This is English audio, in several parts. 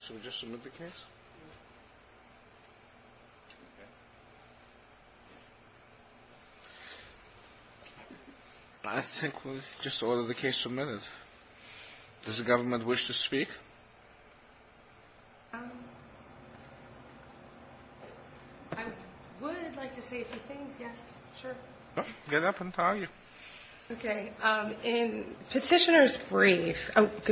should just submit the case. I think we'll just order the case submitted. Does the government wish to speak? I would like to say a few things. Yes, sure. Get up and tell you. Okay. In petitioner's brief, I think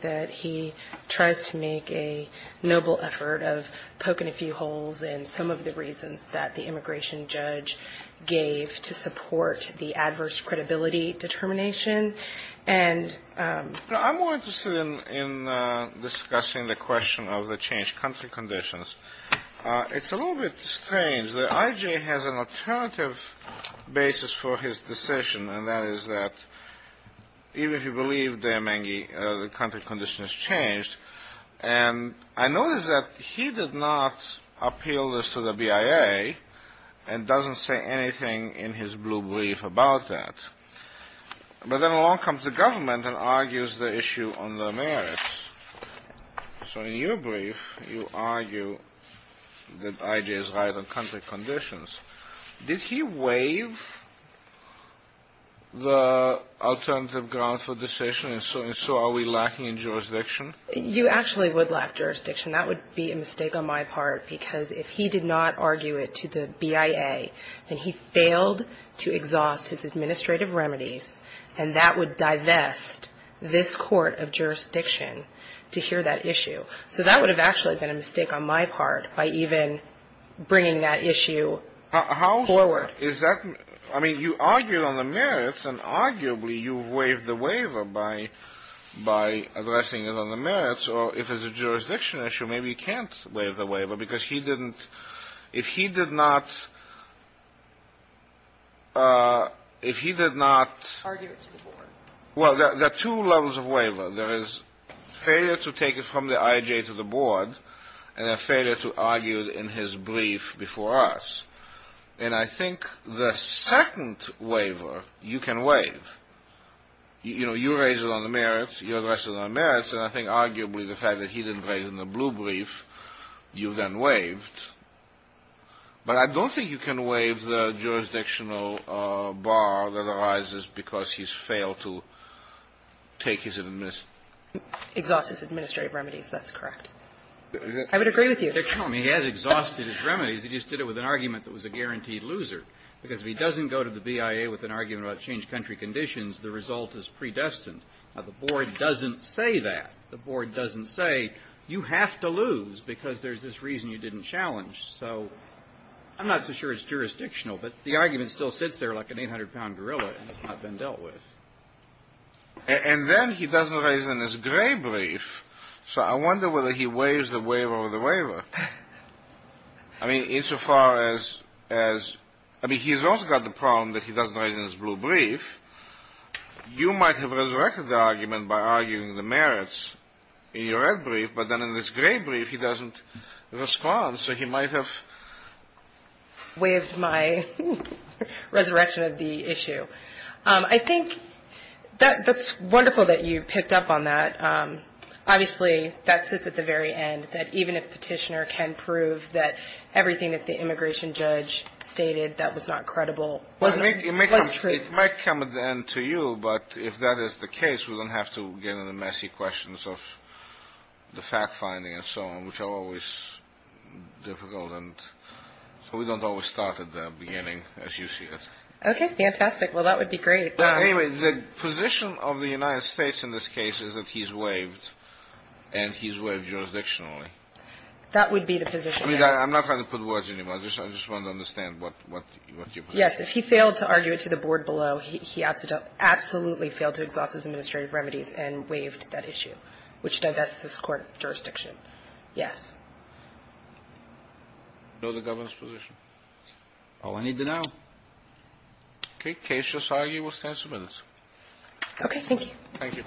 that he tries to make a noble effort of poking a few holes in some of the reasons that the immigration judge gave to support the adverse credibility determination. I'm more interested in discussing the question of the changed country conditions. It's a basis for his decision, and that is that even if you believe DeMengie, the country condition has changed. And I notice that he did not appeal this to the BIA and doesn't say anything in his blue brief about that. But then along comes the government and argues the issue on their merits. So in your brief, you argue that I.J.'s right on country conditions. Did he waive the alternative grounds for decision, and so are we lacking in jurisdiction? You actually would lack jurisdiction. That would be a mistake on my part, because if he did not argue it to the BIA, then he failed to exhaust his administrative remedies, and that would divest this court of jurisdiction to hear that issue. So that would have actually been a mistake on my part by even bringing that issue forward. How is that? I mean, you argued on the merits, and arguably you waived the waiver by addressing it on the merits. Or if it's a jurisdiction issue, maybe you can't waive the waiver, because he didn't — if he did not — if he did not — Well, there are two levels of waiver. There is failure to take it from the I.J. to the board, and a failure to argue it in his brief before us. And I think the second waiver, you can waive. You know, you raise it on the merits, you address it on the merits, and I think arguably the fact that he didn't raise it in the blue brief, you then waived. But I don't think you can waive the jurisdictional bar that arises because he's failed to take his administrative — Exhaust his administrative remedies. That's correct. I would agree with you. No. I mean, he has exhausted his remedies. He just did it with an argument that was a guaranteed loser, because if he doesn't go to the BIA with an argument about changed country conditions, the result is predestined. Now, the board doesn't say that. The board doesn't say, you have to lose because there's this reason you didn't challenge. So I'm not so sure it's jurisdictional, but the argument still sits there like an 800-pound gorilla and has not been dealt with. And then he doesn't raise it in his gray brief. So I wonder whether he waives the waiver or the waiver. I mean, insofar as — I mean, he's also got the problem that he doesn't raise it in his You might have resurrected the argument by arguing the merits in your red brief, but then in this gray brief, he doesn't respond. So he might have — Waived my resurrection of the issue. I think that's wonderful that you picked up on that. Obviously, that sits at the very end, that even if Petitioner can prove that everything that the immigration judge stated that was not credible — It might come at the end to you, but if that is the case, we don't have to get into the messy questions of the fact-finding and so on, which are always difficult. And so we don't always start at the beginning, as you see it. OK, fantastic. Well, that would be great. But anyway, the position of the United States in this case is that he's waived and he's waived jurisdictionally. That would be the position. I mean, I'm not going to put words in your mouth. I just want to understand what you — Yes, if he failed to argue it to the board below, he absolutely failed to exhaust his administrative remedies and waived that issue, which divests this Court of Jurisdiction. Yes. Bill, the Governor's position. All I need to know. OK, case just argued. We'll stand for minutes. OK, thank you.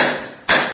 Thank you.